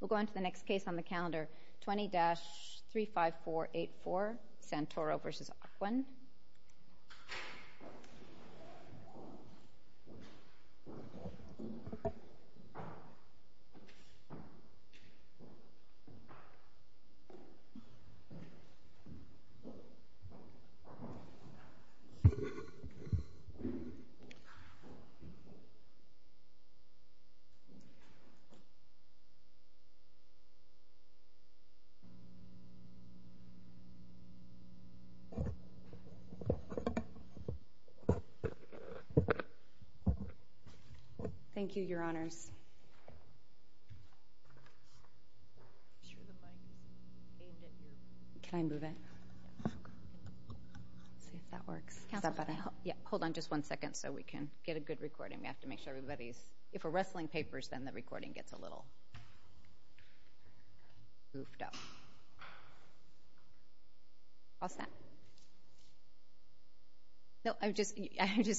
We'll go on to the next case on the calendar, 20-35484, Santoro v. Ocwen. Thank you, your honors. Can I move it? Let's see if that works. Is that better? Yeah. Hold on just one second so we can get a good recording. We have to make sure everybody's... If we're wrestling papers, then the recording gets a little goofed up. All set. No, I'm just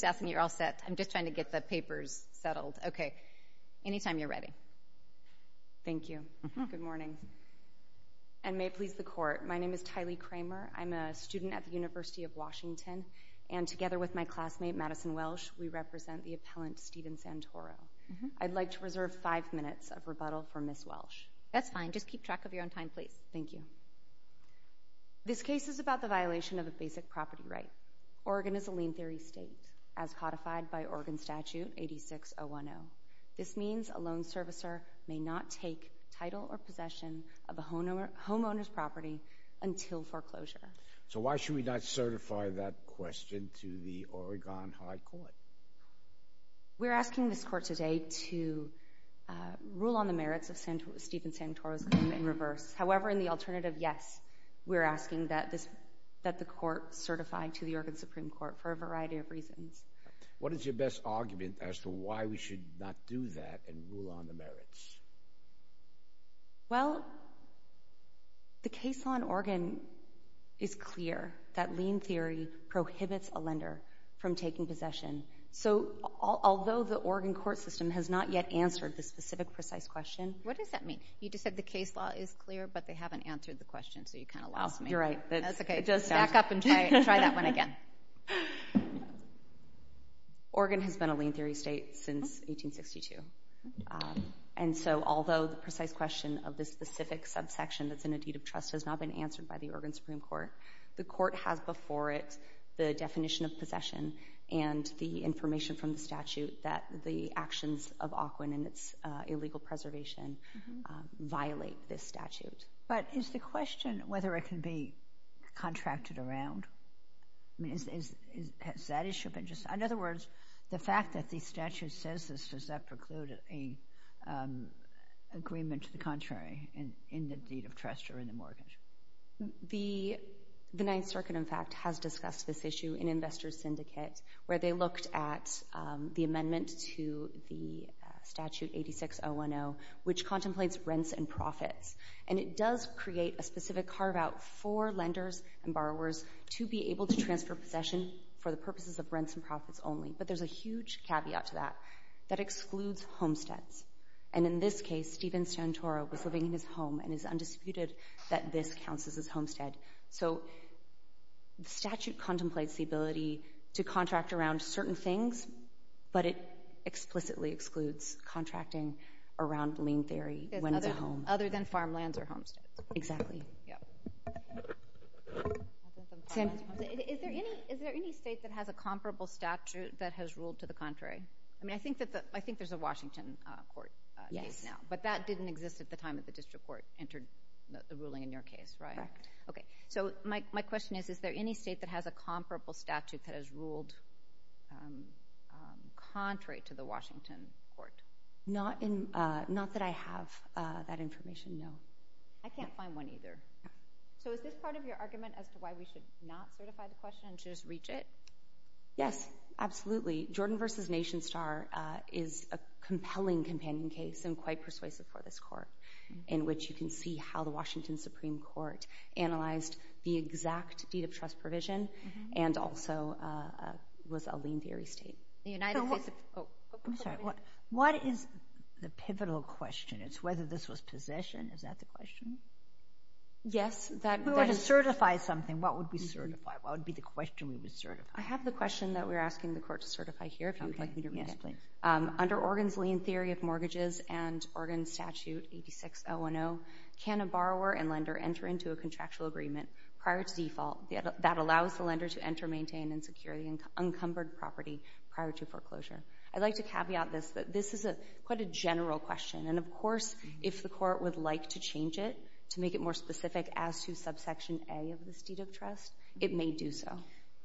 asking you're all set. I'm just trying to get the papers settled. Okay. Anytime you're ready. Thank you. Good morning. And may it please the court, my name is Tylee Kramer. I'm a student at the University of Washington, and together with my classmate Madison Welsh, we represent the appellant Stephen Santoro. I'd like to reserve five minutes of rebuttal for Ms. Welsh. That's fine. Just keep track of your own time, please. Thank you. This case is about the violation of a basic property right. Oregon is a lien-free state, as codified by Oregon Statute 86010. This means a loan servicer may not take title or possession of a homeowner's property until foreclosure. So why should we not certify that question to the Oregon High Court? We're asking this court today to rule on the merits of Stephen Santoro's claim in reverse. However, in the alternative, yes, we're asking that the court certify to the Oregon Supreme Court for a variety of reasons. What is your best argument as to why we should not do that and rule on the merits? Well, the case law in Oregon is clear that lien theory prohibits a lender from taking possession. So although the Oregon court system has not yet answered the specific precise question. What does that mean? You just said the case law is clear, but they haven't answered the question, so you kind of lost me. You're right. That's okay. Back up and try that one again. Oregon has been a lien theory state since 1862. And so although the precise question of the specific subsection that's in a deed of trust has not been answered by the Oregon Supreme Court, the court has before it the definition of possession and the information from the statute that the actions of Aukwin and its illegal preservation violate this statute. But is the question whether it can be contracted around? I mean, has that issue been just— In other words, the fact that the statute says this, does that preclude an agreement to the contrary in the deed of trust or in the mortgage? The Ninth Circuit, in fact, has discussed this issue in investors' syndicates where they looked at the amendment to the statute 86010, which contemplates rents and profits. And it does create a specific carve-out for lenders and borrowers to be able to transfer possession for the purposes of rents and profits only. But there's a huge caveat to that. That excludes homesteads. And in this case, Stephen Santoro was living in his home and it's undisputed that this counts as his homestead. So the statute contemplates the ability to contract around certain things, but it explicitly excludes contracting around lien theory when he's at home. Other than farmlands or homesteads. Exactly. Is there any state that has a comparable statute that has ruled to the contrary? I mean, I think there's a Washington court case now. But that didn't exist at the time that the district court entered the ruling in your case, right? Correct. Okay. So my question is, is there any state that has a comparable statute that has ruled contrary to the Washington court? Not that I have that information, no. I can't find one either. So is this part of your argument as to why we should not certify the question and just reach it? Yes, absolutely. Jordan v. Nation Star is a compelling companion case and quite persuasive for this court, in which you can see how the Washington Supreme Court analyzed the exact deed of trust provision and also was a lien theory state. I'm sorry. What is the pivotal question? It's whether this was possession. Is that the question? Yes. If we were to certify something, what would we certify? What would be the question we would certify? I have the question that we're asking the court to certify here, if you'd like me to read it. Yes, please. Under Oregon's lien theory of mortgages and Oregon Statute 86-010, can a borrower and lender enter into a contractual agreement prior to default that allows the lender to enter, maintain, and secure the encumbered property prior to foreclosure? I'd like to caveat this, that this is quite a general question. And, of course, if the court would like to change it to make it more specific as to subsection A of this deed of trust, it may do so.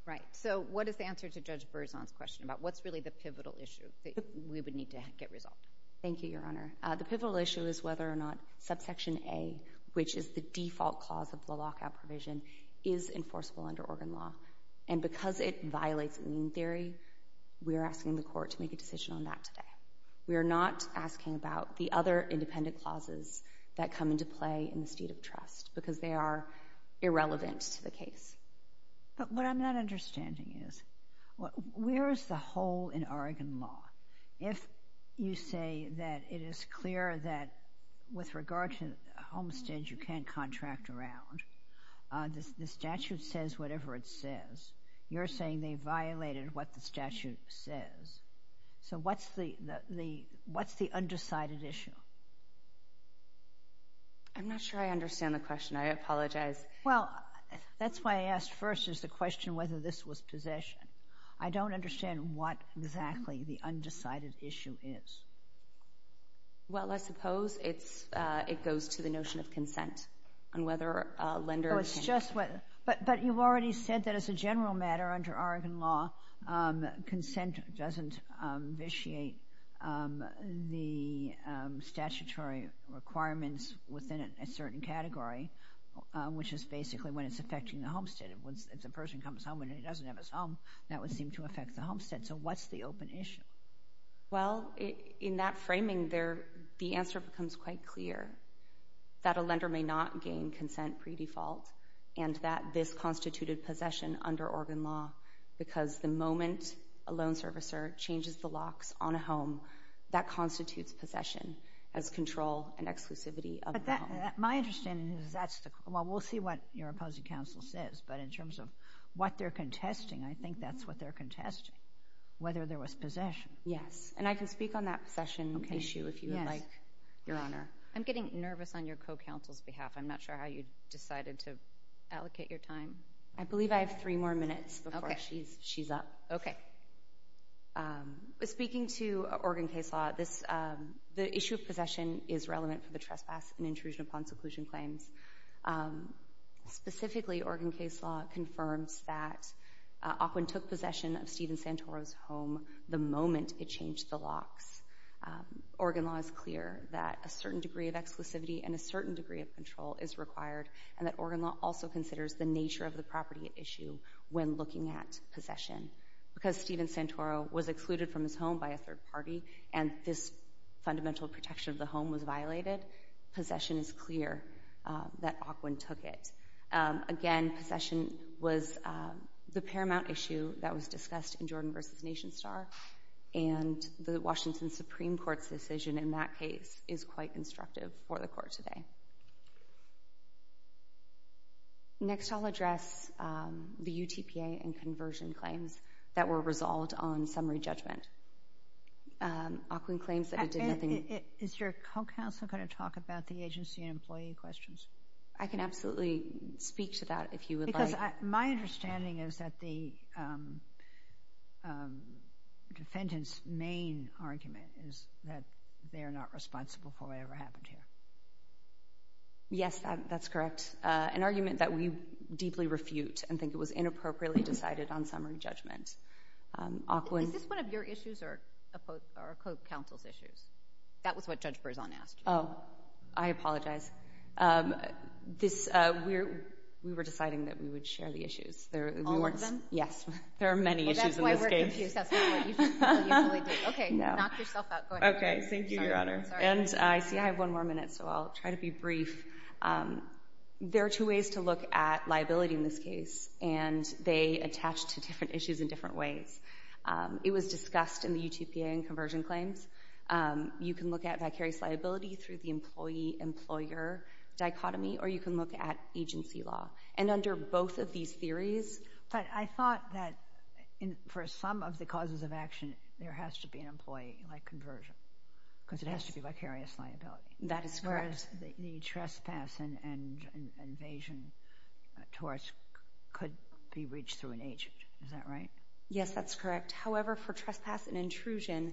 Right. So what is the answer to Judge Berzon's question about what's really the pivotal issue that we would need to get resolved? Thank you, Your Honor. The pivotal issue is whether or not subsection A, which is the default cause of the lockout provision, is enforceable under Oregon law. And because it violates lien theory, we are asking the court to make a decision on that today. We are not asking about the other independent clauses that come into play in the deed of trust because they are irrelevant to the case. But what I'm not understanding is, where is the hole in Oregon law? If you say that it is clear that with regard to the homestead you can't contract around, the statute says whatever it says, you're saying they violated what the statute says. So what's the undecided issue? I'm not sure I understand the question. I apologize. Well, that's why I asked first is the question whether this was possession. I don't understand what exactly the undecided issue is. Well, I suppose it goes to the notion of consent and whether a lender can… But you've already said that as a general matter under Oregon law, consent doesn't vitiate the statutory requirements within a certain category, which is basically when it's affecting the homestead. If a person comes home and he doesn't have his home, that would seem to affect the homestead. So what's the open issue? Well, in that framing, the answer becomes quite clear, that a lender may not gain consent pre-default and that this constituted possession under Oregon law because the moment a loan servicer changes the locks on a home, that constitutes possession as control and exclusivity of the home. My understanding is that's the… Well, we'll see what your opposing counsel says, but in terms of what they're contesting, I think that's what they're contesting, whether there was possession. Yes, and I can speak on that possession issue if you would like, Your Honor. I'm getting nervous on your co-counsel's behalf. I'm not sure how you decided to allocate your time. I believe I have three more minutes before she's up. Okay. Speaking to Oregon case law, the issue of possession is relevant for the trespass and intrusion upon seclusion claims. Specifically, Oregon case law confirms that Aquin took possession of Stephen Santoro's home the moment it changed the locks. Oregon law is clear that a certain degree of exclusivity and a certain degree of control is required and that Oregon law also considers the nature of the property at issue when looking at possession because Stephen Santoro was excluded from his home by a third party and this fundamental protection of the home was violated. Possession is clear that Aquin took it. Again, possession was the paramount issue that was discussed in Jordan v. Nation Star, and the Washington Supreme Court's decision in that case is quite instructive for the court today. Next, I'll address the UTPA and conversion claims that were resolved on summary judgment. Aquin claims that it did nothing. Is your co-counsel going to talk about the agency and employee questions? I can absolutely speak to that if you would like. My understanding is that the defendant's main argument is that they're not responsible for whatever happened here. Yes, that's correct. An argument that we deeply refute and think it was inappropriately decided on summary judgment. Is this one of your issues or a co-counsel's issues? That was what Judge Berzon asked. Oh, I apologize. We were deciding that we would share the issues. All of them? Yes, there are many issues in this case. Well, that's why we're confused. Okay, knock yourself out. Okay, thank you, Your Honor. I see I have one more minute, so I'll try to be brief. There are two ways to look at liability in this case, and they attach to different issues in different ways. It was discussed in the UTPA and conversion claims. You can look at vicarious liability through the employee-employer dichotomy, or you can look at agency law. And under both of these theories— But I thought that for some of the causes of action, there has to be an employee, like conversion, because it has to be vicarious liability. That is correct. As far as the trespass and invasion towards—could be reached through an agent. Is that right? Yes, that's correct. However, for trespass and intrusion,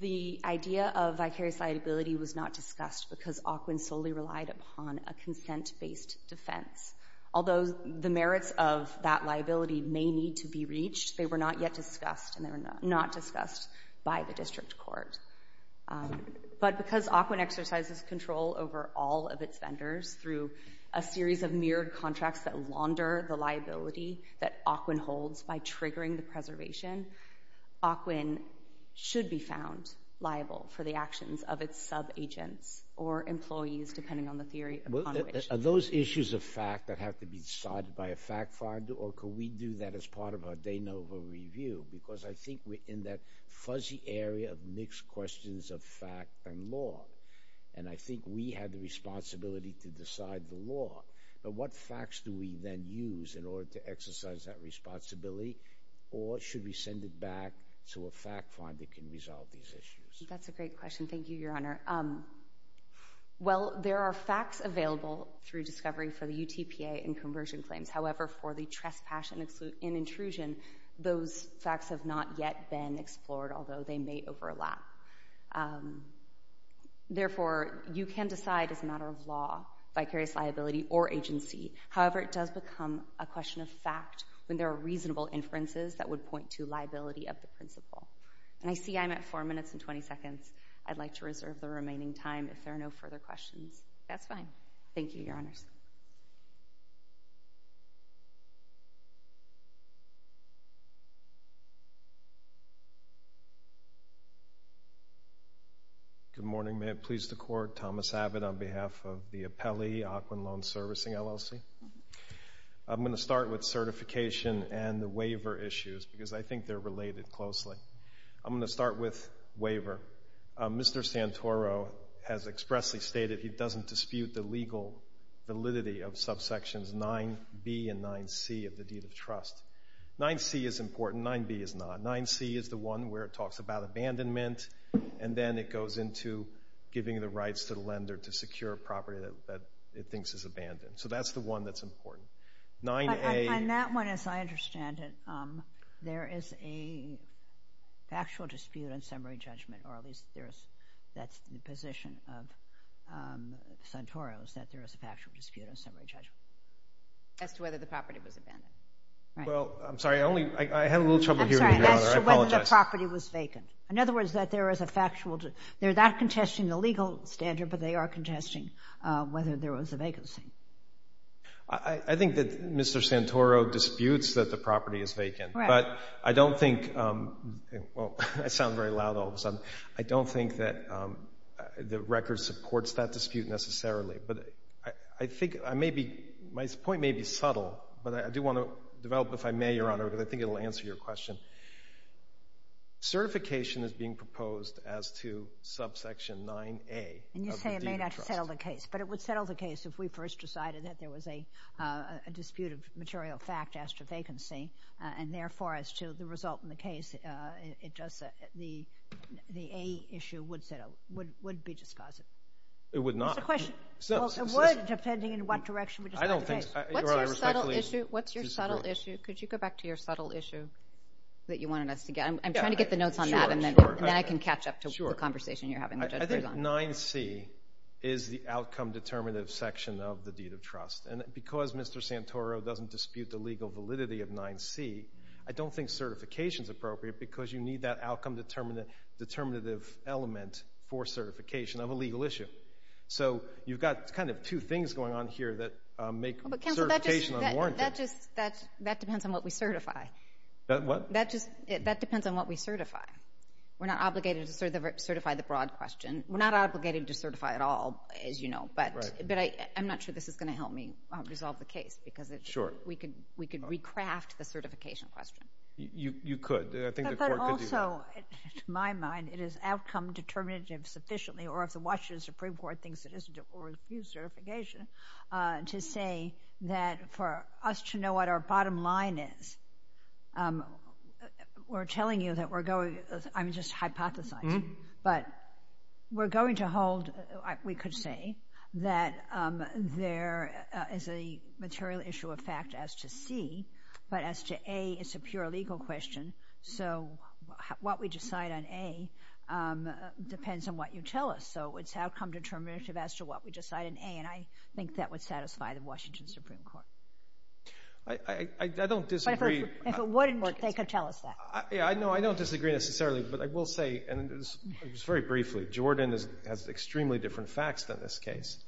the idea of vicarious liability was not discussed because Aukwin solely relied upon a consent-based defense. Although the merits of that liability may need to be reached, they were not yet discussed, and they were not discussed by the district court. But because Aukwin exercises control over all of its vendors through a series of mirrored contracts that launder the liability that Aukwin holds by triggering the preservation, Aukwin should be found liable for the actions of its sub-agents or employees, depending on the theory upon which— Are those issues a fact that have to be decided by a fact file, or could we do that as part of our de novo review? Because I think we're in that fuzzy area of mixed questions of fact and law, and I think we have the responsibility to decide the law. But what facts do we then use in order to exercise that responsibility, or should we send it back to a fact file that can resolve these issues? That's a great question. Thank you, Your Honor. Well, there are facts available through discovery for the UTPA and conversion claims. However, for the trespass and intrusion, those facts have not yet been explored, although they may overlap. Therefore, you can decide as a matter of law vicarious liability or agency. However, it does become a question of fact when there are reasonable inferences that would point to liability of the principle. And I see I'm at 4 minutes and 20 seconds. I'd like to reserve the remaining time if there are no further questions. That's fine. Thank you, Your Honors. Good morning. May it please the Court, Thomas Abbott on behalf of the Appellee, Aquin Loan Servicing, LLC. I'm going to start with certification and the waiver issues because I think they're related closely. I'm going to start with waiver. Mr. Santoro has expressly stated he doesn't dispute the legal validity of subsections 9b and 9c of the deed of trust. 9c is important. 9b is not. 9c is the one where it talks about abandonment, and then it goes into giving the rights to the lender to secure property that it thinks is abandoned. So that's the one that's important. On that one, as I understand it, there is a factual dispute on summary judgment, or at least that's the position of Santoro, is that there is a factual dispute on summary judgment. As to whether the property was abandoned. Well, I'm sorry. I had a little trouble hearing you, Your Honor. I apologize. As to whether the property was vacant. In other words, that there is a factual dispute. They're not contesting the legal standard, but they are contesting whether there was a vacancy. I think that Mr. Santoro disputes that the property is vacant, but I don't think—well, I sound very loud all of a sudden. I don't think that the record supports that dispute necessarily, but I think I may be—my point may be subtle, but I do want to develop, if I may, Your Honor, because I think it will answer your question. Certification is being proposed as to subsection 9A of the deed of trust. And you say it may not settle the case, but it would settle the case if we first decided that there was a dispute of material fact as to vacancy, and therefore, as to the result in the case, it does—the A issue would settle—would be discussed. It would not. It's a question. Well, it would, depending in what direction we decide the case. I don't think—Your Honor, I respectfully disagree. What's your subtle issue? Could you go back to your subtle issue that you wanted us to get? I'm trying to get the notes on that, and then I can catch up to the conversation you're having. I think 9C is the outcome-determinative section of the deed of trust. And because Mr. Santoro doesn't dispute the legal validity of 9C, I don't think certification is appropriate because you need that outcome-determinative element for certification of a legal issue. So you've got kind of two things going on here that make certification unwarranted. Counsel, that just—that depends on what we certify. What? That just—that depends on what we certify. We're not obligated to certify the broad question. We're not obligated to certify at all, as you know. Right. But I'm not sure this is going to help me resolve the case because we could recraft the certification question. You could. I think the Court could do that. Also, to my mind, it is outcome-determinative sufficiently, or if the Washington Supreme Court thinks it isn't, or refuse certification to say that for us to know what our bottom line is, we're telling you that we're going— I'm just hypothesizing, but we're going to hold—we could say that there is a material issue of fact as to C, but as to A, it's a pure legal question. So what we decide on A depends on what you tell us. So it's outcome-determinative as to what we decide on A, and I think that would satisfy the Washington Supreme Court. I don't disagree. But if it wouldn't, they could tell us that. Yeah, no, I don't disagree necessarily, but I will say, and this is very briefly, Jordan has extremely different facts than this case.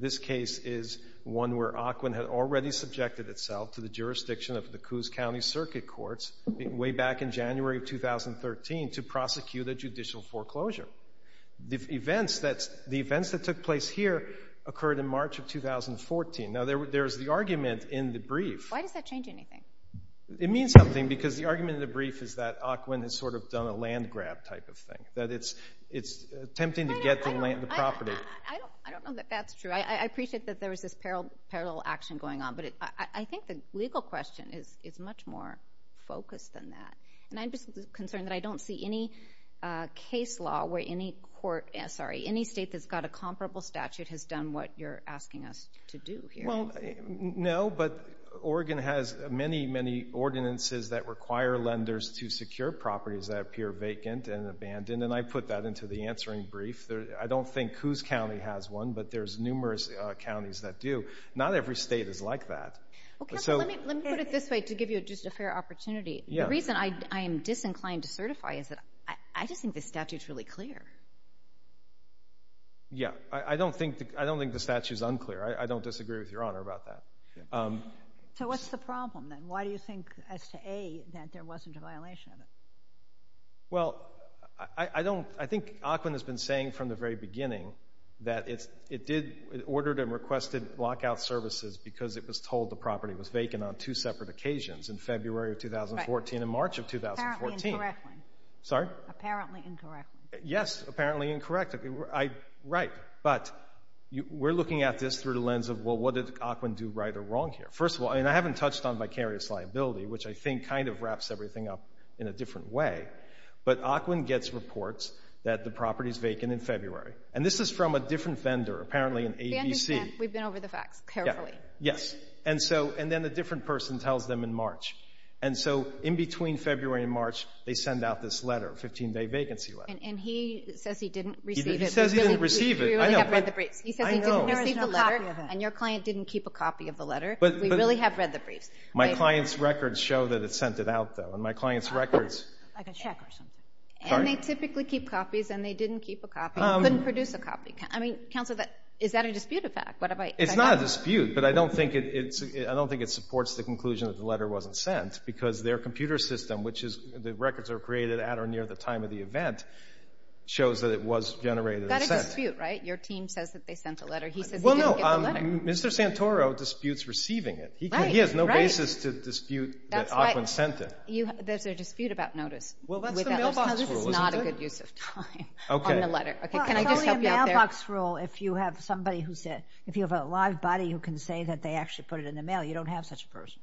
This case is one where Ocwen had already subjected itself to the jurisdiction of the Coos County Circuit Courts way back in January of 2013 to prosecute a judicial foreclosure. The events that took place here occurred in March of 2014. Now, there is the argument in the brief— Why does that change anything? It means something because the argument in the brief is that Ocwen has sort of done a land grab type of thing, that it's attempting to get the land, the property. I don't know that that's true. I appreciate that there was this parallel action going on, but I think the legal question is much more focused than that. And I'm just concerned that I don't see any case law where any court— sorry, any state that's got a comparable statute has done what you're asking us to do here. Well, no, but Oregon has many, many ordinances that require lenders to secure properties that appear vacant and abandoned, and I put that into the answering brief. I don't think Coos County has one, but there's numerous counties that do. Not every state is like that. Let me put it this way to give you just a fair opportunity. The reason I am disinclined to certify is that I just think the statute's really clear. Yeah, I don't think the statute's unclear. I don't disagree with Your Honor about that. So what's the problem, then? Why do you think, as to A, that there wasn't a violation of it? Well, I don't—I think Aquin has been saying from the very beginning that it did—it ordered and requested lockout services because it was told the property was vacant on two separate occasions, in February of 2014 and March of 2014. Apparently incorrect. Sorry? Apparently incorrect. Yes, apparently incorrect. Right, but we're looking at this through the lens of, well, what did Aquin do right or wrong here? First of all, I mean, I haven't touched on vicarious liability, which I think kind of wraps everything up in a different way, but Aquin gets reports that the property's vacant in February. And this is from a different vendor, apparently an ABC. We've been over the facts carefully. Yes, and then a different person tells them in March. And so in between February and March, they send out this letter, a 15-day vacancy letter. And he says he didn't receive it. He says he didn't receive it. We really have read the briefs. I know. He says he didn't receive the letter and your client didn't keep a copy of the letter. We really have read the briefs. My client's records show that it's sent it out, though, and my client's records— Like a check or something. Sorry? And they typically keep copies, and they didn't keep a copy. Couldn't produce a copy. I mean, counsel, is that a dispute of fact? It's not a dispute, but I don't think it supports the conclusion that the letter wasn't sent because their computer system, which is the records are created at or near the time of the event, shows that it was generated and sent. That's a dispute, right? Your team says that they sent a letter. He says he didn't get the letter. Well, no, Mr. Santoro disputes receiving it. He has no basis to dispute that Ockwin sent it. There's a dispute about notice. Well, that's the mailbox rule, isn't it? This is not a good use of time on the letter. Okay. Can I just help you out there? Well, it's only a mailbox rule if you have somebody who's a— if you have a live body who can say that they actually put it in the mail. You don't have such a person.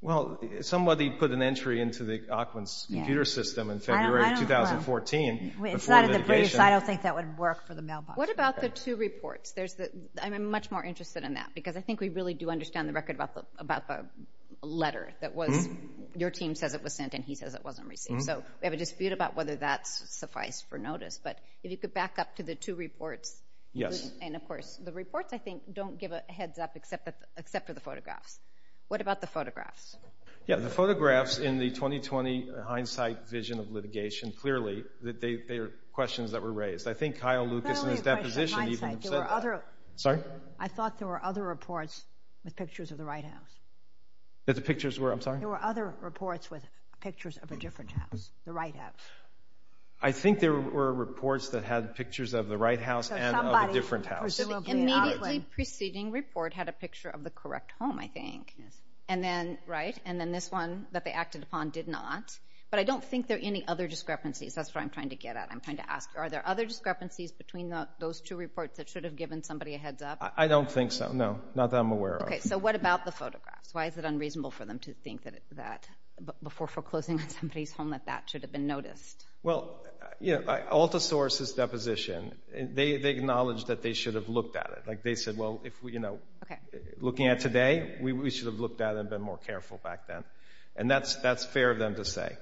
Well, somebody put an entry into the Ockwin's computer system in February of 2014 before litigation. It's not in the briefs. I don't think that would work for the mailbox. What about the two reports? I'm much more interested in that because I think we really do understand the record about the letter that was— your team says it was sent and he says it wasn't received. So we have a dispute about whether that suffices for notice. But if you could back up to the two reports. Yes. And, of course, the reports, I think, don't give a heads up except for the photographs. What about the photographs? Yeah, the photographs in the 2020 hindsight vision of litigation, clearly they are questions that were raised. I think Kyle Lucas in his deposition even said that. Sorry? I thought there were other reports with pictures of the right house. That the pictures were—I'm sorry? There were other reports with pictures of a different house, the right house. I think there were reports that had pictures of the right house and of a different house. The immediately preceding report had a picture of the correct home, I think. And then this one that they acted upon did not. But I don't think there are any other discrepancies. That's what I'm trying to get at. I'm trying to ask, are there other discrepancies between those two reports that should have given somebody a heads up? I don't think so, no. Not that I'm aware of. Okay, so what about the photographs? Why is it unreasonable for them to think that before foreclosing on somebody's home that that should have been noticed? Well, AltaSource's deposition, they acknowledged that they should have looked at it. They said, well, looking at today, we should have looked at it and been more careful back then. And that's fair of them to say.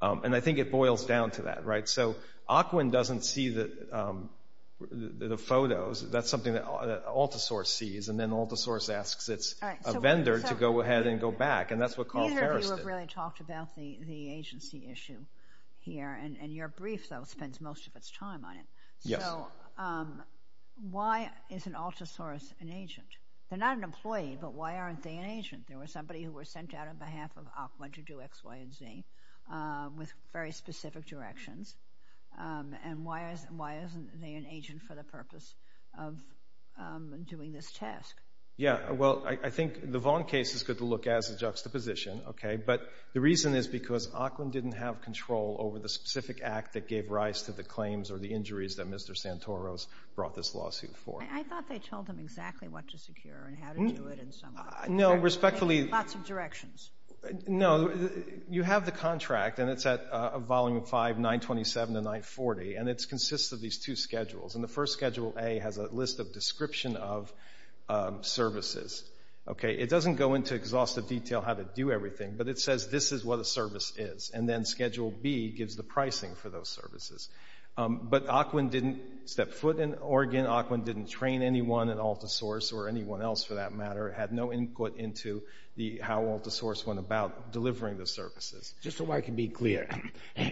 And I think it boils down to that. So Ockwin doesn't see the photos. That's something that AltaSource sees. And then AltaSource asks its vendor to go ahead and go back. And that's what Carl Ferris did. Neither of you have really talked about the agency issue here. And your brief, though, spends most of its time on it. So why isn't AltaSource an agent? They're not an employee, but why aren't they an agent? There was somebody who was sent out on behalf of Ockwin to do X, Y, and Z with very specific directions. And why isn't they an agent for the purpose of doing this task? Yeah, well, I think the Vaughn case is good to look at as a juxtaposition. But the reason is because Ockwin didn't have control over the specific act that gave rise to the claims or the injuries that Mr. Santoro's brought this lawsuit for. I thought they told them exactly what to secure and how to do it and so on. No, respectfully. Lots of directions. No, you have the contract, and it's at Volume 5, 927 to 940, and it consists of these two schedules. And the first, Schedule A, has a list of description of services. It doesn't go into exhaustive detail how to do everything, but it says this is what a service is. And then Schedule B gives the pricing for those services. But Ockwin didn't step foot in Oregon. Ockwin didn't train anyone at AltaSource or anyone else, for that matter. He had no input into how AltaSource went about delivering the services. Just so I can be clear,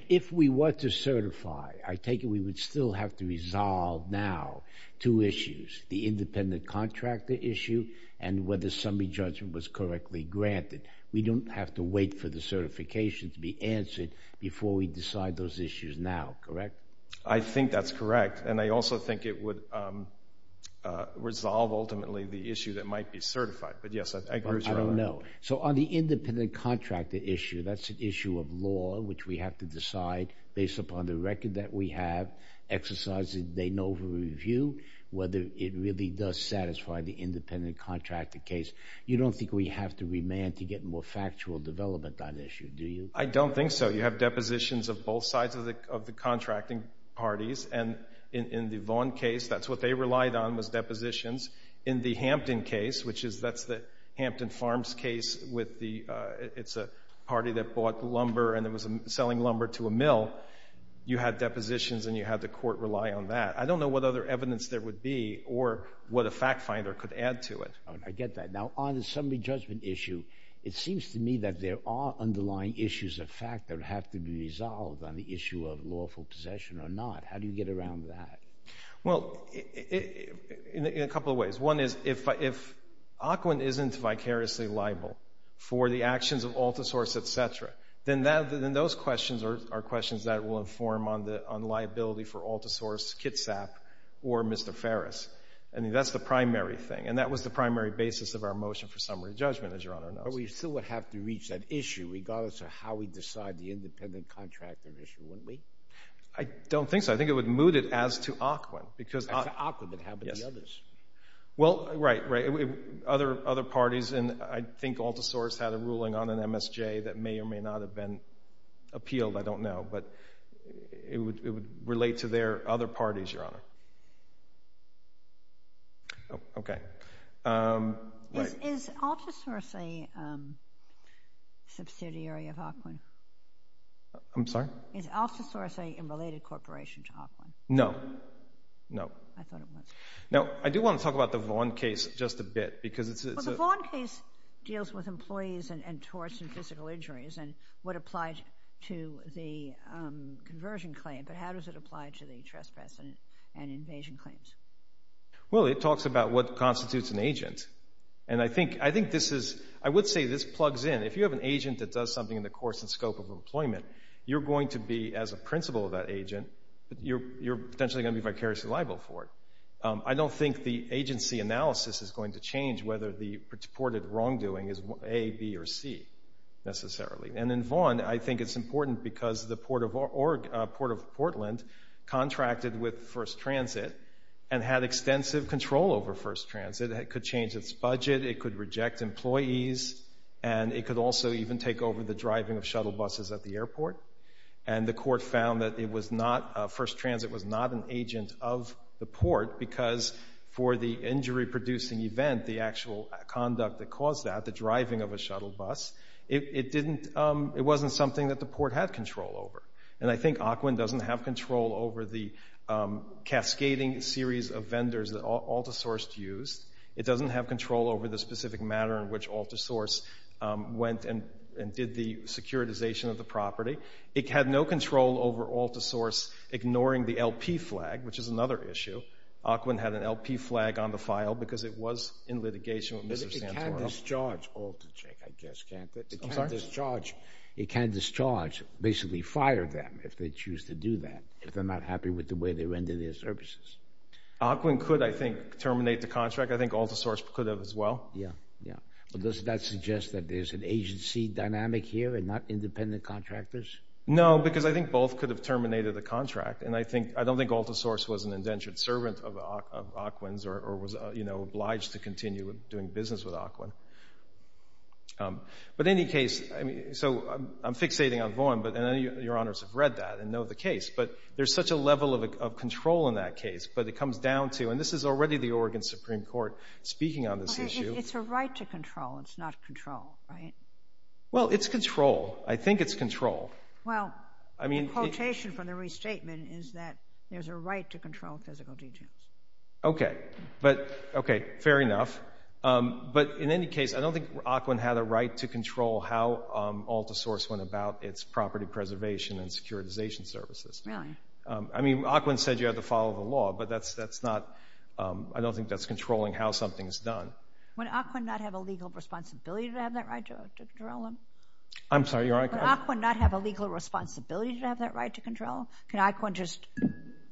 if we were to certify, I take it we would still have to resolve now two issues, the independent contractor issue and whether summary judgment was correctly granted. We don't have to wait for the certification to be answered before we decide those issues now, correct? I think that's correct, and I also think it would resolve ultimately the issue that might be certified. But, yes, I agree with you on that. I don't know. So on the independent contractor issue, that's an issue of law, which we have to decide based upon the record that we have, exercising the NOVA review, whether it really does satisfy the independent contractor case. You don't think we have to remand to get more factual development on the issue, do you? I don't think so. You have depositions of both sides of the contracting parties, and in the Vaughn case, that's what they relied on was depositions. In the Hampton case, which is the Hampton Farms case, it's a party that bought lumber and was selling lumber to a mill, you had depositions and you had the court rely on that. I don't know what other evidence there would be or what a fact finder could add to it. I get that. Now, on the summary judgment issue, it seems to me that there are underlying issues of fact that have to be resolved on the issue of lawful possession or not. How do you get around that? Well, in a couple of ways. One is if Ocwen isn't vicariously liable for the actions of Altersource, et cetera, then those questions are questions that will inform on liability for Altersource, Kitsap, or Mr. Ferris. I mean, that's the primary thing, and that was the primary basis of our motion for summary judgment, as Your Honor knows. But we still would have to reach that issue, regardless of how we decide the independent contractor issue, wouldn't we? I don't think so. I think it would moot it as to Ocwen. As to Ocwen, but how about the others? Well, right, right. Other parties, and I think Altersource had a ruling on an MSJ that may or may not have been appealed, I don't know, but it would relate to their other parties, Your Honor. Okay. Is Altersource a subsidiary of Ocwen? I'm sorry? Is Altersource a related corporation to Ocwen? No. No. I thought it was. Now, I do want to talk about the Vaughn case just a bit, because it's a... Well, the Vaughn case deals with employees and torts and physical injuries and what applied to the conversion claim, but how does it apply to the trespass and invasion claims? Well, it talks about what constitutes an agent, and I think this is, I would say this plugs in. If you have an agent that does something in the course and scope of employment, you're going to be, as a principal of that agent, you're potentially going to be vicariously liable for it. I don't think the agency analysis is going to change whether the reported wrongdoing is A, B, or C, necessarily. And in Vaughn, I think it's important because the Port of Portland contracted with First Transit and had extensive control over First Transit. It could change its budget, it could reject employees, and it could also even take over the driving of shuttle buses at the airport. And the court found that First Transit was not an agent of the port because for the injury-producing event, the actual conduct that caused that, the driving of a shuttle bus, it wasn't something that the port had control over. And I think Ocwen doesn't have control over the cascading series of vendors that AltaSource used. It doesn't have control over the specific manner in which AltaSource went and did the securitization of the property. It had no control over AltaSource ignoring the LP flag, which is another issue. Ocwen had an LP flag on the file because it was in litigation with Mr. Santoro. It can't discharge, basically, fire them if they choose to do that, if they're not happy with the way they render their services. Ocwen could, I think, terminate the contract. I think AltaSource could have as well. Yeah, yeah. But does that suggest that there's an agency dynamic here and not independent contractors? No, because I think both could have terminated the contract, and I don't think AltaSource was an indentured servant of Ocwen's or was obliged to continue doing business with Ocwen. But in any case, I mean, so I'm fixating on Bowen, and your honors have read that and know the case, but there's such a level of control in that case. But it comes down to, and this is already the Oregon Supreme Court speaking on this issue. It's a right to control. It's not control, right? Well, it's control. I think it's control. Well, the quotation from the restatement is that there's a right to control physical details. Okay. Okay, fair enough. But in any case, I don't think Ocwen had a right to control how AltaSource went about its property preservation and securitization services. I mean, Ocwen said you had to follow the law, but I don't think that's controlling how something is done. Would Ocwen not have a legal responsibility to have that right to control them? I'm sorry, your Honor? Would Ocwen not have a legal responsibility to have that right to control? Could Ocwen just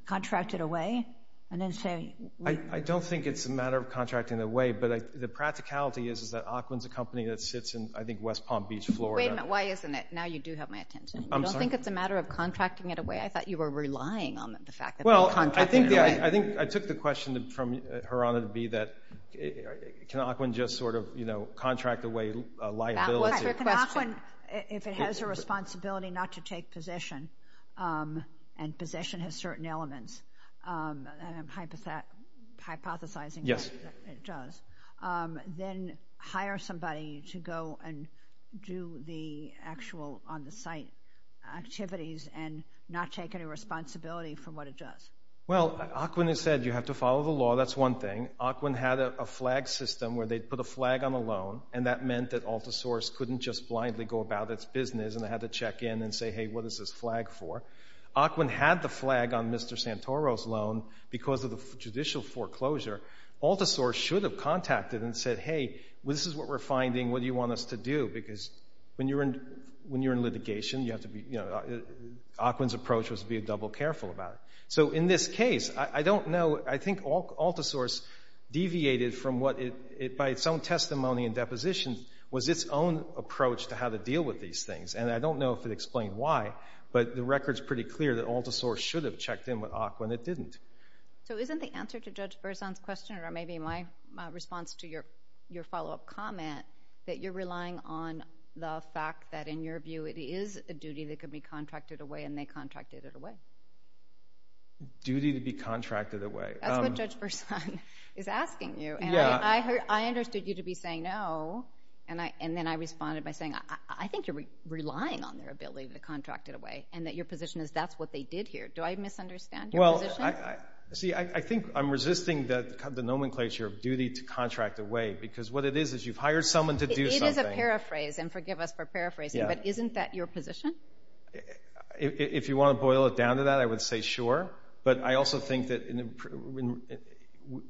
contract it away and then say? I don't think it's a matter of contracting it away, but the practicality is that Ocwen's a company that sits in, I think, West Palm Beach, Florida. Wait a minute, why isn't it? Now you do have my attention. I'm sorry? I don't think it's a matter of contracting it away. I thought you were relying on the fact that they contracted it away. Well, I think I took the question from Her Honor to be that can Ocwen just sort of, you know, contract away liability? That was her question. Can Ocwen, if it has a responsibility not to take possession, and possession has certain elements, and I'm hypothesizing that it does, then hire somebody to go and do the actual on-the-site activities and not take any responsibility for what it does? Well, Ocwen has said you have to follow the law. That's one thing. Ocwen had a flag system where they'd put a flag on a loan, and that meant that AltaSource couldn't just blindly go about its business and they had to check in and say, hey, what is this flag for? Ocwen had the flag on Mr. Santoro's loan because of the judicial foreclosure. AltaSource should have contacted and said, hey, this is what we're finding. What do you want us to do? Because when you're in litigation, you have to be, you know, Ocwen's approach was to be double careful about it. So in this case, I don't know. I think AltaSource deviated from what it, by its own testimony and depositions, was its own approach to how to deal with these things, and I don't know if it explained why, but the record's pretty clear that AltaSource should have checked in with Ocwen. It didn't. So isn't the answer to Judge Berzon's question, or maybe my response to your follow-up comment, that you're relying on the fact that, in your view, it is a duty that could be contracted away and they contracted it away? Duty to be contracted away. That's what Judge Berzon is asking you, and I understood you to be saying no, and then I responded by saying, I think you're relying on their ability to contract it away and that your position is that's what they did here. Do I misunderstand your position? See, I think I'm resisting the nomenclature of duty to contract away because what it is is you've hired someone to do something. It is a paraphrase, and forgive us for paraphrasing, but isn't that your position? If you want to boil it down to that, I would say sure, but I also think that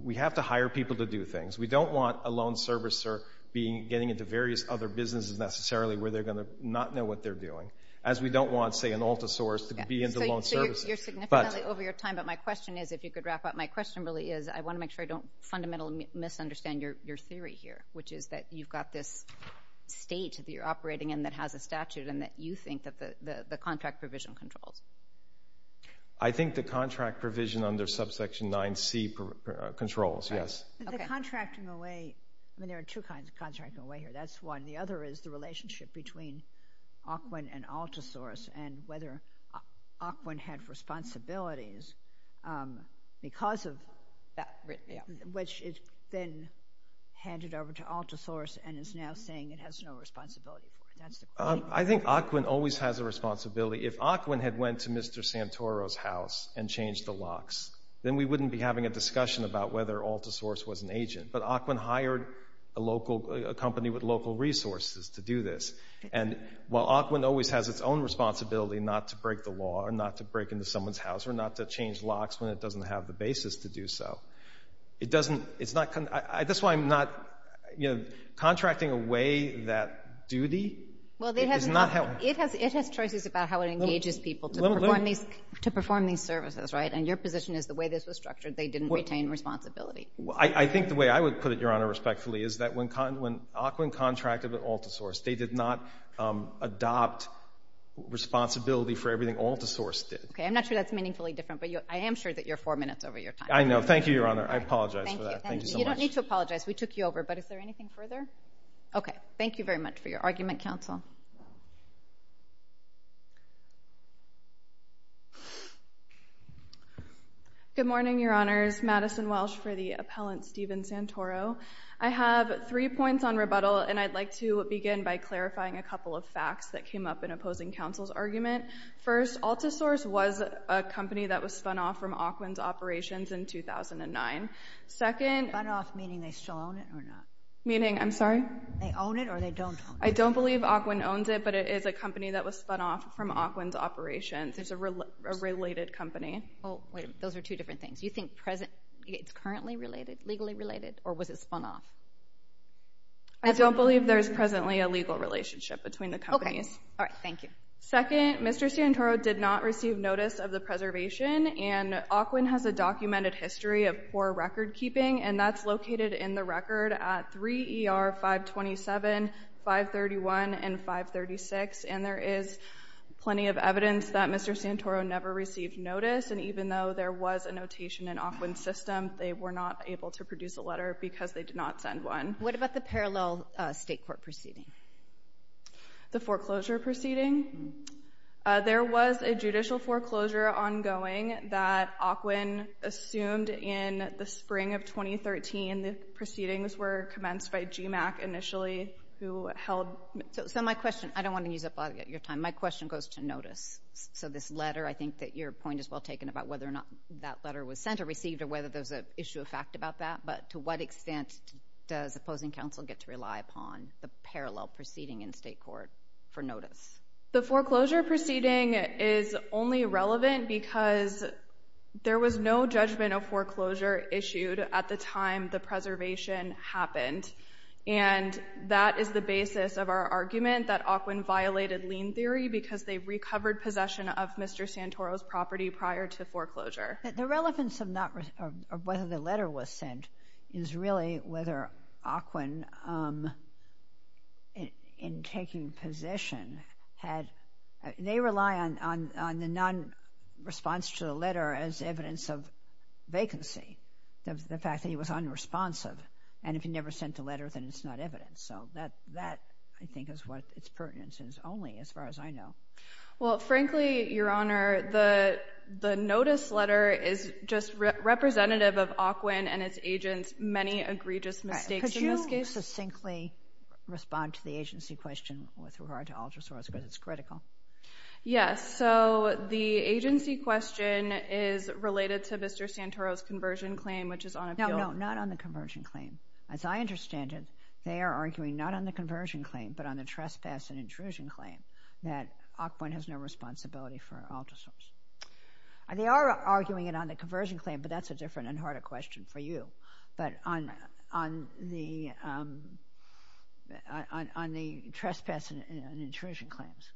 we have to hire people to do things. We don't want a loan servicer getting into various other businesses necessarily where they're going to not know what they're doing, as we don't want, say, an AltaSource to be in the loan services. So you're significantly over your time, but my question is, if you could wrap up, my question really is, I want to make sure I don't fundamentally misunderstand your theory here, which is that you've got this state that you're operating in that has a statute and that you think that the contract provision controls. I think the contract provision under subsection 9C controls, yes. The contracting away, I mean, there are two kinds of contracting away here. That's one. The other is the relationship between Ockwin and AltaSource and whether Ockwin had responsibilities because of that, which has been handed over to AltaSource and is now saying it has no responsibility. I think Ockwin always has a responsibility. If Ockwin had went to Mr. Santoro's house and changed the locks, then we wouldn't be having a discussion about whether AltaSource was an agent. But Ockwin hired a local company with local resources to do this. And while Ockwin always has its own responsibility not to break the law or not to break into someone's house or not to change locks when it doesn't have the basis to do so, that's why I'm not contracting away that duty. It has choices about how it engages people to perform these services, right? And your position is the way this was structured, they didn't retain responsibility. I think the way I would put it, Your Honor, respectfully, is that when Ockwin contracted with AltaSource, they did not adopt responsibility for everything AltaSource did. Okay. I'm not sure that's meaningfully different, but I am sure that you're four minutes over your time. I know. Thank you, Your Honor. I apologize for that. Thank you so much. You don't need to apologize. We took you over. But is there anything further? Okay. Thank you very much for your argument, counsel. Good morning, Your Honors. Madison Welsh for the appellant, Stephen Santoro. I have three points on rebuttal, and I'd like to begin by clarifying a couple of facts that came up in opposing counsel's argument. First, AltaSource was a company that was spun off from Ockwin's operations in 2009. Second— Spun off, meaning they still own it or not? Meaning, I'm sorry? They own it or they don't own it? I don't believe Ockwin owns it, but it is a company that was spun off from Ockwin's operations. It's a related company. Oh, wait a minute. Those are two different things. You think it's currently related, legally related, or was it spun off? I don't believe there's presently a legal relationship between the companies. Okay. All right. Thank you. Second, Mr. Santoro did not receive notice of the preservation, and Ockwin has a documented history of poor recordkeeping, and that's located in the record at 3 ER 527, 531, and 536, and there is plenty of evidence that Mr. Santoro never received notice, and even though there was a notation in Ockwin's system, they were not able to produce a letter because they did not send one. What about the parallel state court proceeding? The foreclosure proceeding? There was a judicial foreclosure ongoing that Ockwin assumed in the spring of 2013. The proceedings were commenced by GMAC initially, who held— So my question—I don't want to use up all of your time. My question goes to notice. So this letter, I think that your point is well taken about whether or not that letter was sent or received or whether there's an issue of fact about that, but to what extent does opposing counsel get to rely upon the parallel proceeding in state court for notice? The foreclosure proceeding is only relevant because there was no judgment of foreclosure issued at the time the preservation happened, and that is the basis of our argument that Ockwin violated lien theory because they recovered possession of Mr. Santoro's property prior to foreclosure. The relevance of whether the letter was sent is really whether Ockwin, in taking possession, had—they rely on the nonresponse to the letter as evidence of vacancy, of the fact that he was unresponsive, and if he never sent a letter, then it's not evidence. So that, I think, is what its pertinence is only, as far as I know. Well, frankly, Your Honor, the notice letter is just representative of Ockwin and its agents' many egregious mistakes in this case. Could you succinctly respond to the agency question with regard to Alderson, because it's critical? Yes. So the agency question is related to Mr. Santoro's conversion claim, which is on appeal— No, no, not on the conversion claim. As I understand it, they are arguing not on the conversion claim but on the trespass and intrusion claim that Ockwin has no responsibility for Alderson's. They are arguing it on the conversion claim, but that's a different and harder question for you, but on the trespass and intrusion claims.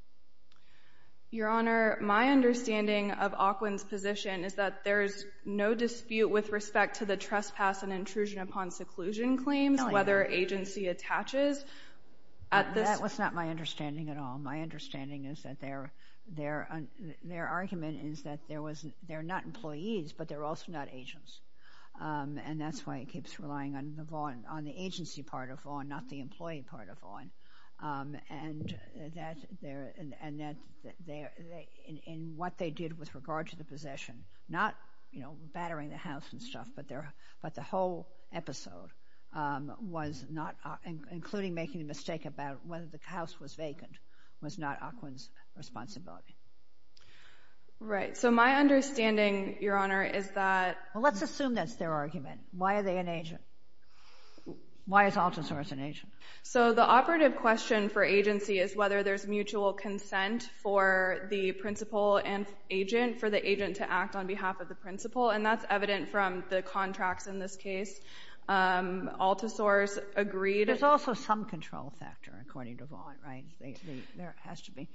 Your Honor, my understanding of Ockwin's position is that there's no dispute with respect to the trespass and intrusion upon seclusion claims, whether agency attaches at this— That was not my understanding at all. My understanding is that their argument is that they're not employees, but they're also not agents, and that's why it keeps relying on the agency part of Vaughan, not the employee part of Vaughan. And what they did with regard to the possession, not battering the house and stuff, but the whole episode was not— including making a mistake about whether the house was vacant— was not Ockwin's responsibility. Right. So my understanding, Your Honor, is that— Well, let's assume that's their argument. Why are they an agent? Why is Altersor an agent? So the operative question for agency is whether there's mutual consent for the principal and agent, for the agent to act on behalf of the principal, and that's evident from the contracts in this case. Altersor's agreed— There's also some control factor, according to Vaughan, right? There has to be.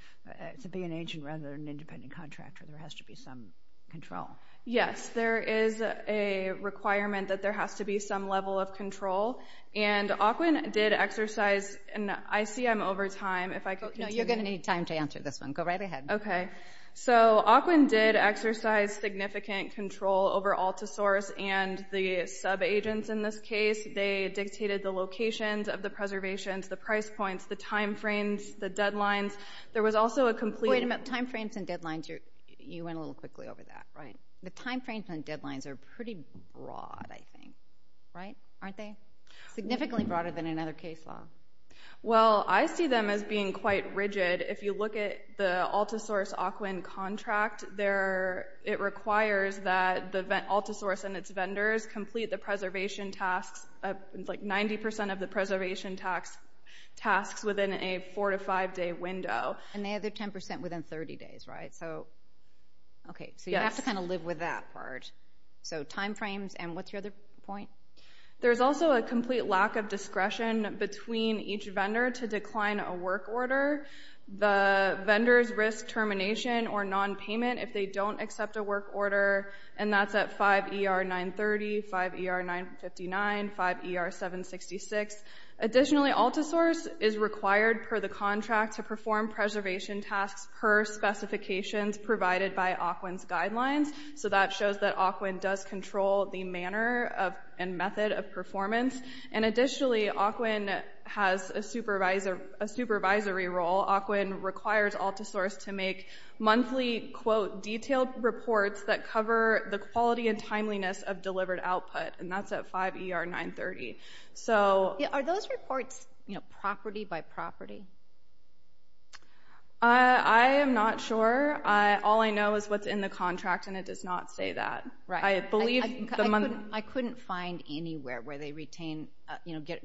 To be an agent rather than an independent contractor, there has to be some control. Yes, there is a requirement that there has to be some level of control, and Ockwin did exercise—and I see I'm over time. No, you're going to need time to answer this one. Go right ahead. Okay. So Ockwin did exercise significant control over Altersor and the subagents in this case. They dictated the locations of the preservations, the price points, the time frames, the deadlines. There was also a complete— Wait a minute. Time frames and deadlines, you went a little quickly over that, right? The time frames and deadlines are pretty broad, I think, right? Aren't they? Significantly broader than another case law. Well, I see them as being quite rigid. If you look at the Altersor's Ockwin contract, it requires that Altersor and its vendors complete the preservation tasks, like 90% of the preservation tasks within a 4- to 5-day window. And the other 10% within 30 days, right? So you have to kind of live with that part. So time frames and what's your other point? There's also a complete lack of discretion between each vendor to decline a work order. The vendors risk termination or nonpayment if they don't accept a work order, and that's at 5 ER 930, 5 ER 959, 5 ER 766. Additionally, Altersor is required per the contract to perform preservation tasks per specifications provided by Ockwin's guidelines. So that shows that Ockwin does control the manner and method of performance. And additionally, Ockwin has a supervisory role. Ockwin requires Altersor to make monthly, quote, detailed reports that cover the quality and timeliness of delivered output, and that's at 5 ER 930. Are those reports property by property? I am not sure. All I know is what's in the contract, and it does not say that. I couldn't find anywhere where they retain,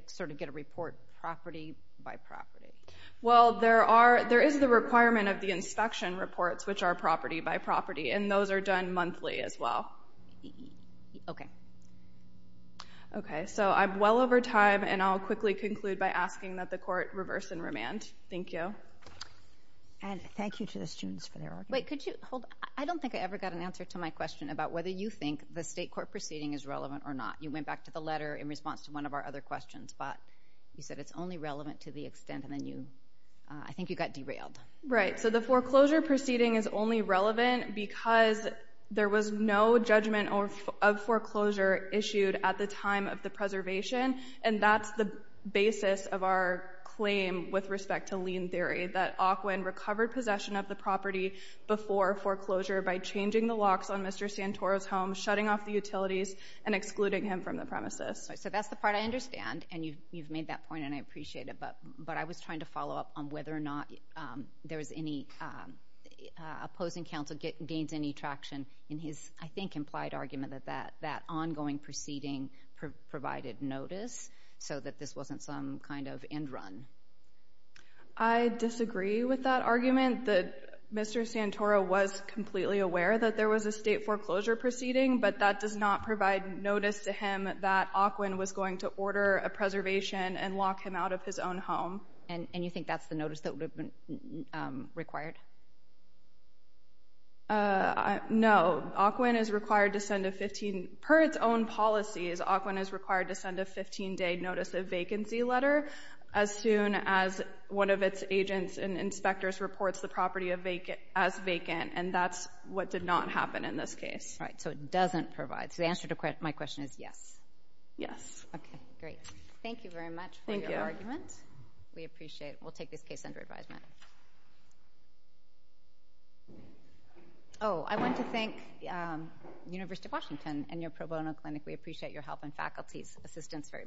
sort of get a report property by property. Well, there is the requirement of the inspection reports, which are property by property, and those are done monthly as well. Okay. Okay, so I'm well over time, and I'll quickly conclude by asking that the Court reverse and remand. Thank you. And thank you to the students for their arguments. Wait, could you hold on? I don't think I ever got an answer to my question about whether you think the state court proceeding is relevant or not. You went back to the letter in response to one of our other questions, but you said it's only relevant to the extent, and then I think you got derailed. Right, so the foreclosure proceeding is only relevant because there was no judgment of foreclosure issued at the time of the preservation, and that's the basis of our claim with respect to lien theory, recovered possession of the property before foreclosure by changing the locks on Mr. Santoro's home, shutting off the utilities, and excluding him from the premises. So that's the part I understand, and you've made that point, and I appreciate it, but I was trying to follow up on whether or not there was any opposing counsel gains any traction in his, I think, implied argument that that ongoing proceeding provided notice so that this wasn't some kind of end run. I disagree with that argument. Mr. Santoro was completely aware that there was a state foreclosure proceeding, but that does not provide notice to him that Aukwin was going to order a preservation and lock him out of his own home. And you think that's the notice that would have been required? No. Aukwin is required to send a 15... Per its own policies, Aukwin is required to send a 15-day notice of vacancy letter as soon as one of its agents and inspectors reports the property as vacant, and that's what did not happen in this case. Right, so it doesn't provide. So the answer to my question is yes. Yes. Okay, great. Thank you very much for your argument. Thank you. We appreciate it. We'll take this case under advisement. Oh, I want to thank the University of Washington and your pro bono clinic. We appreciate your help and faculty's assistance very much. Thank you.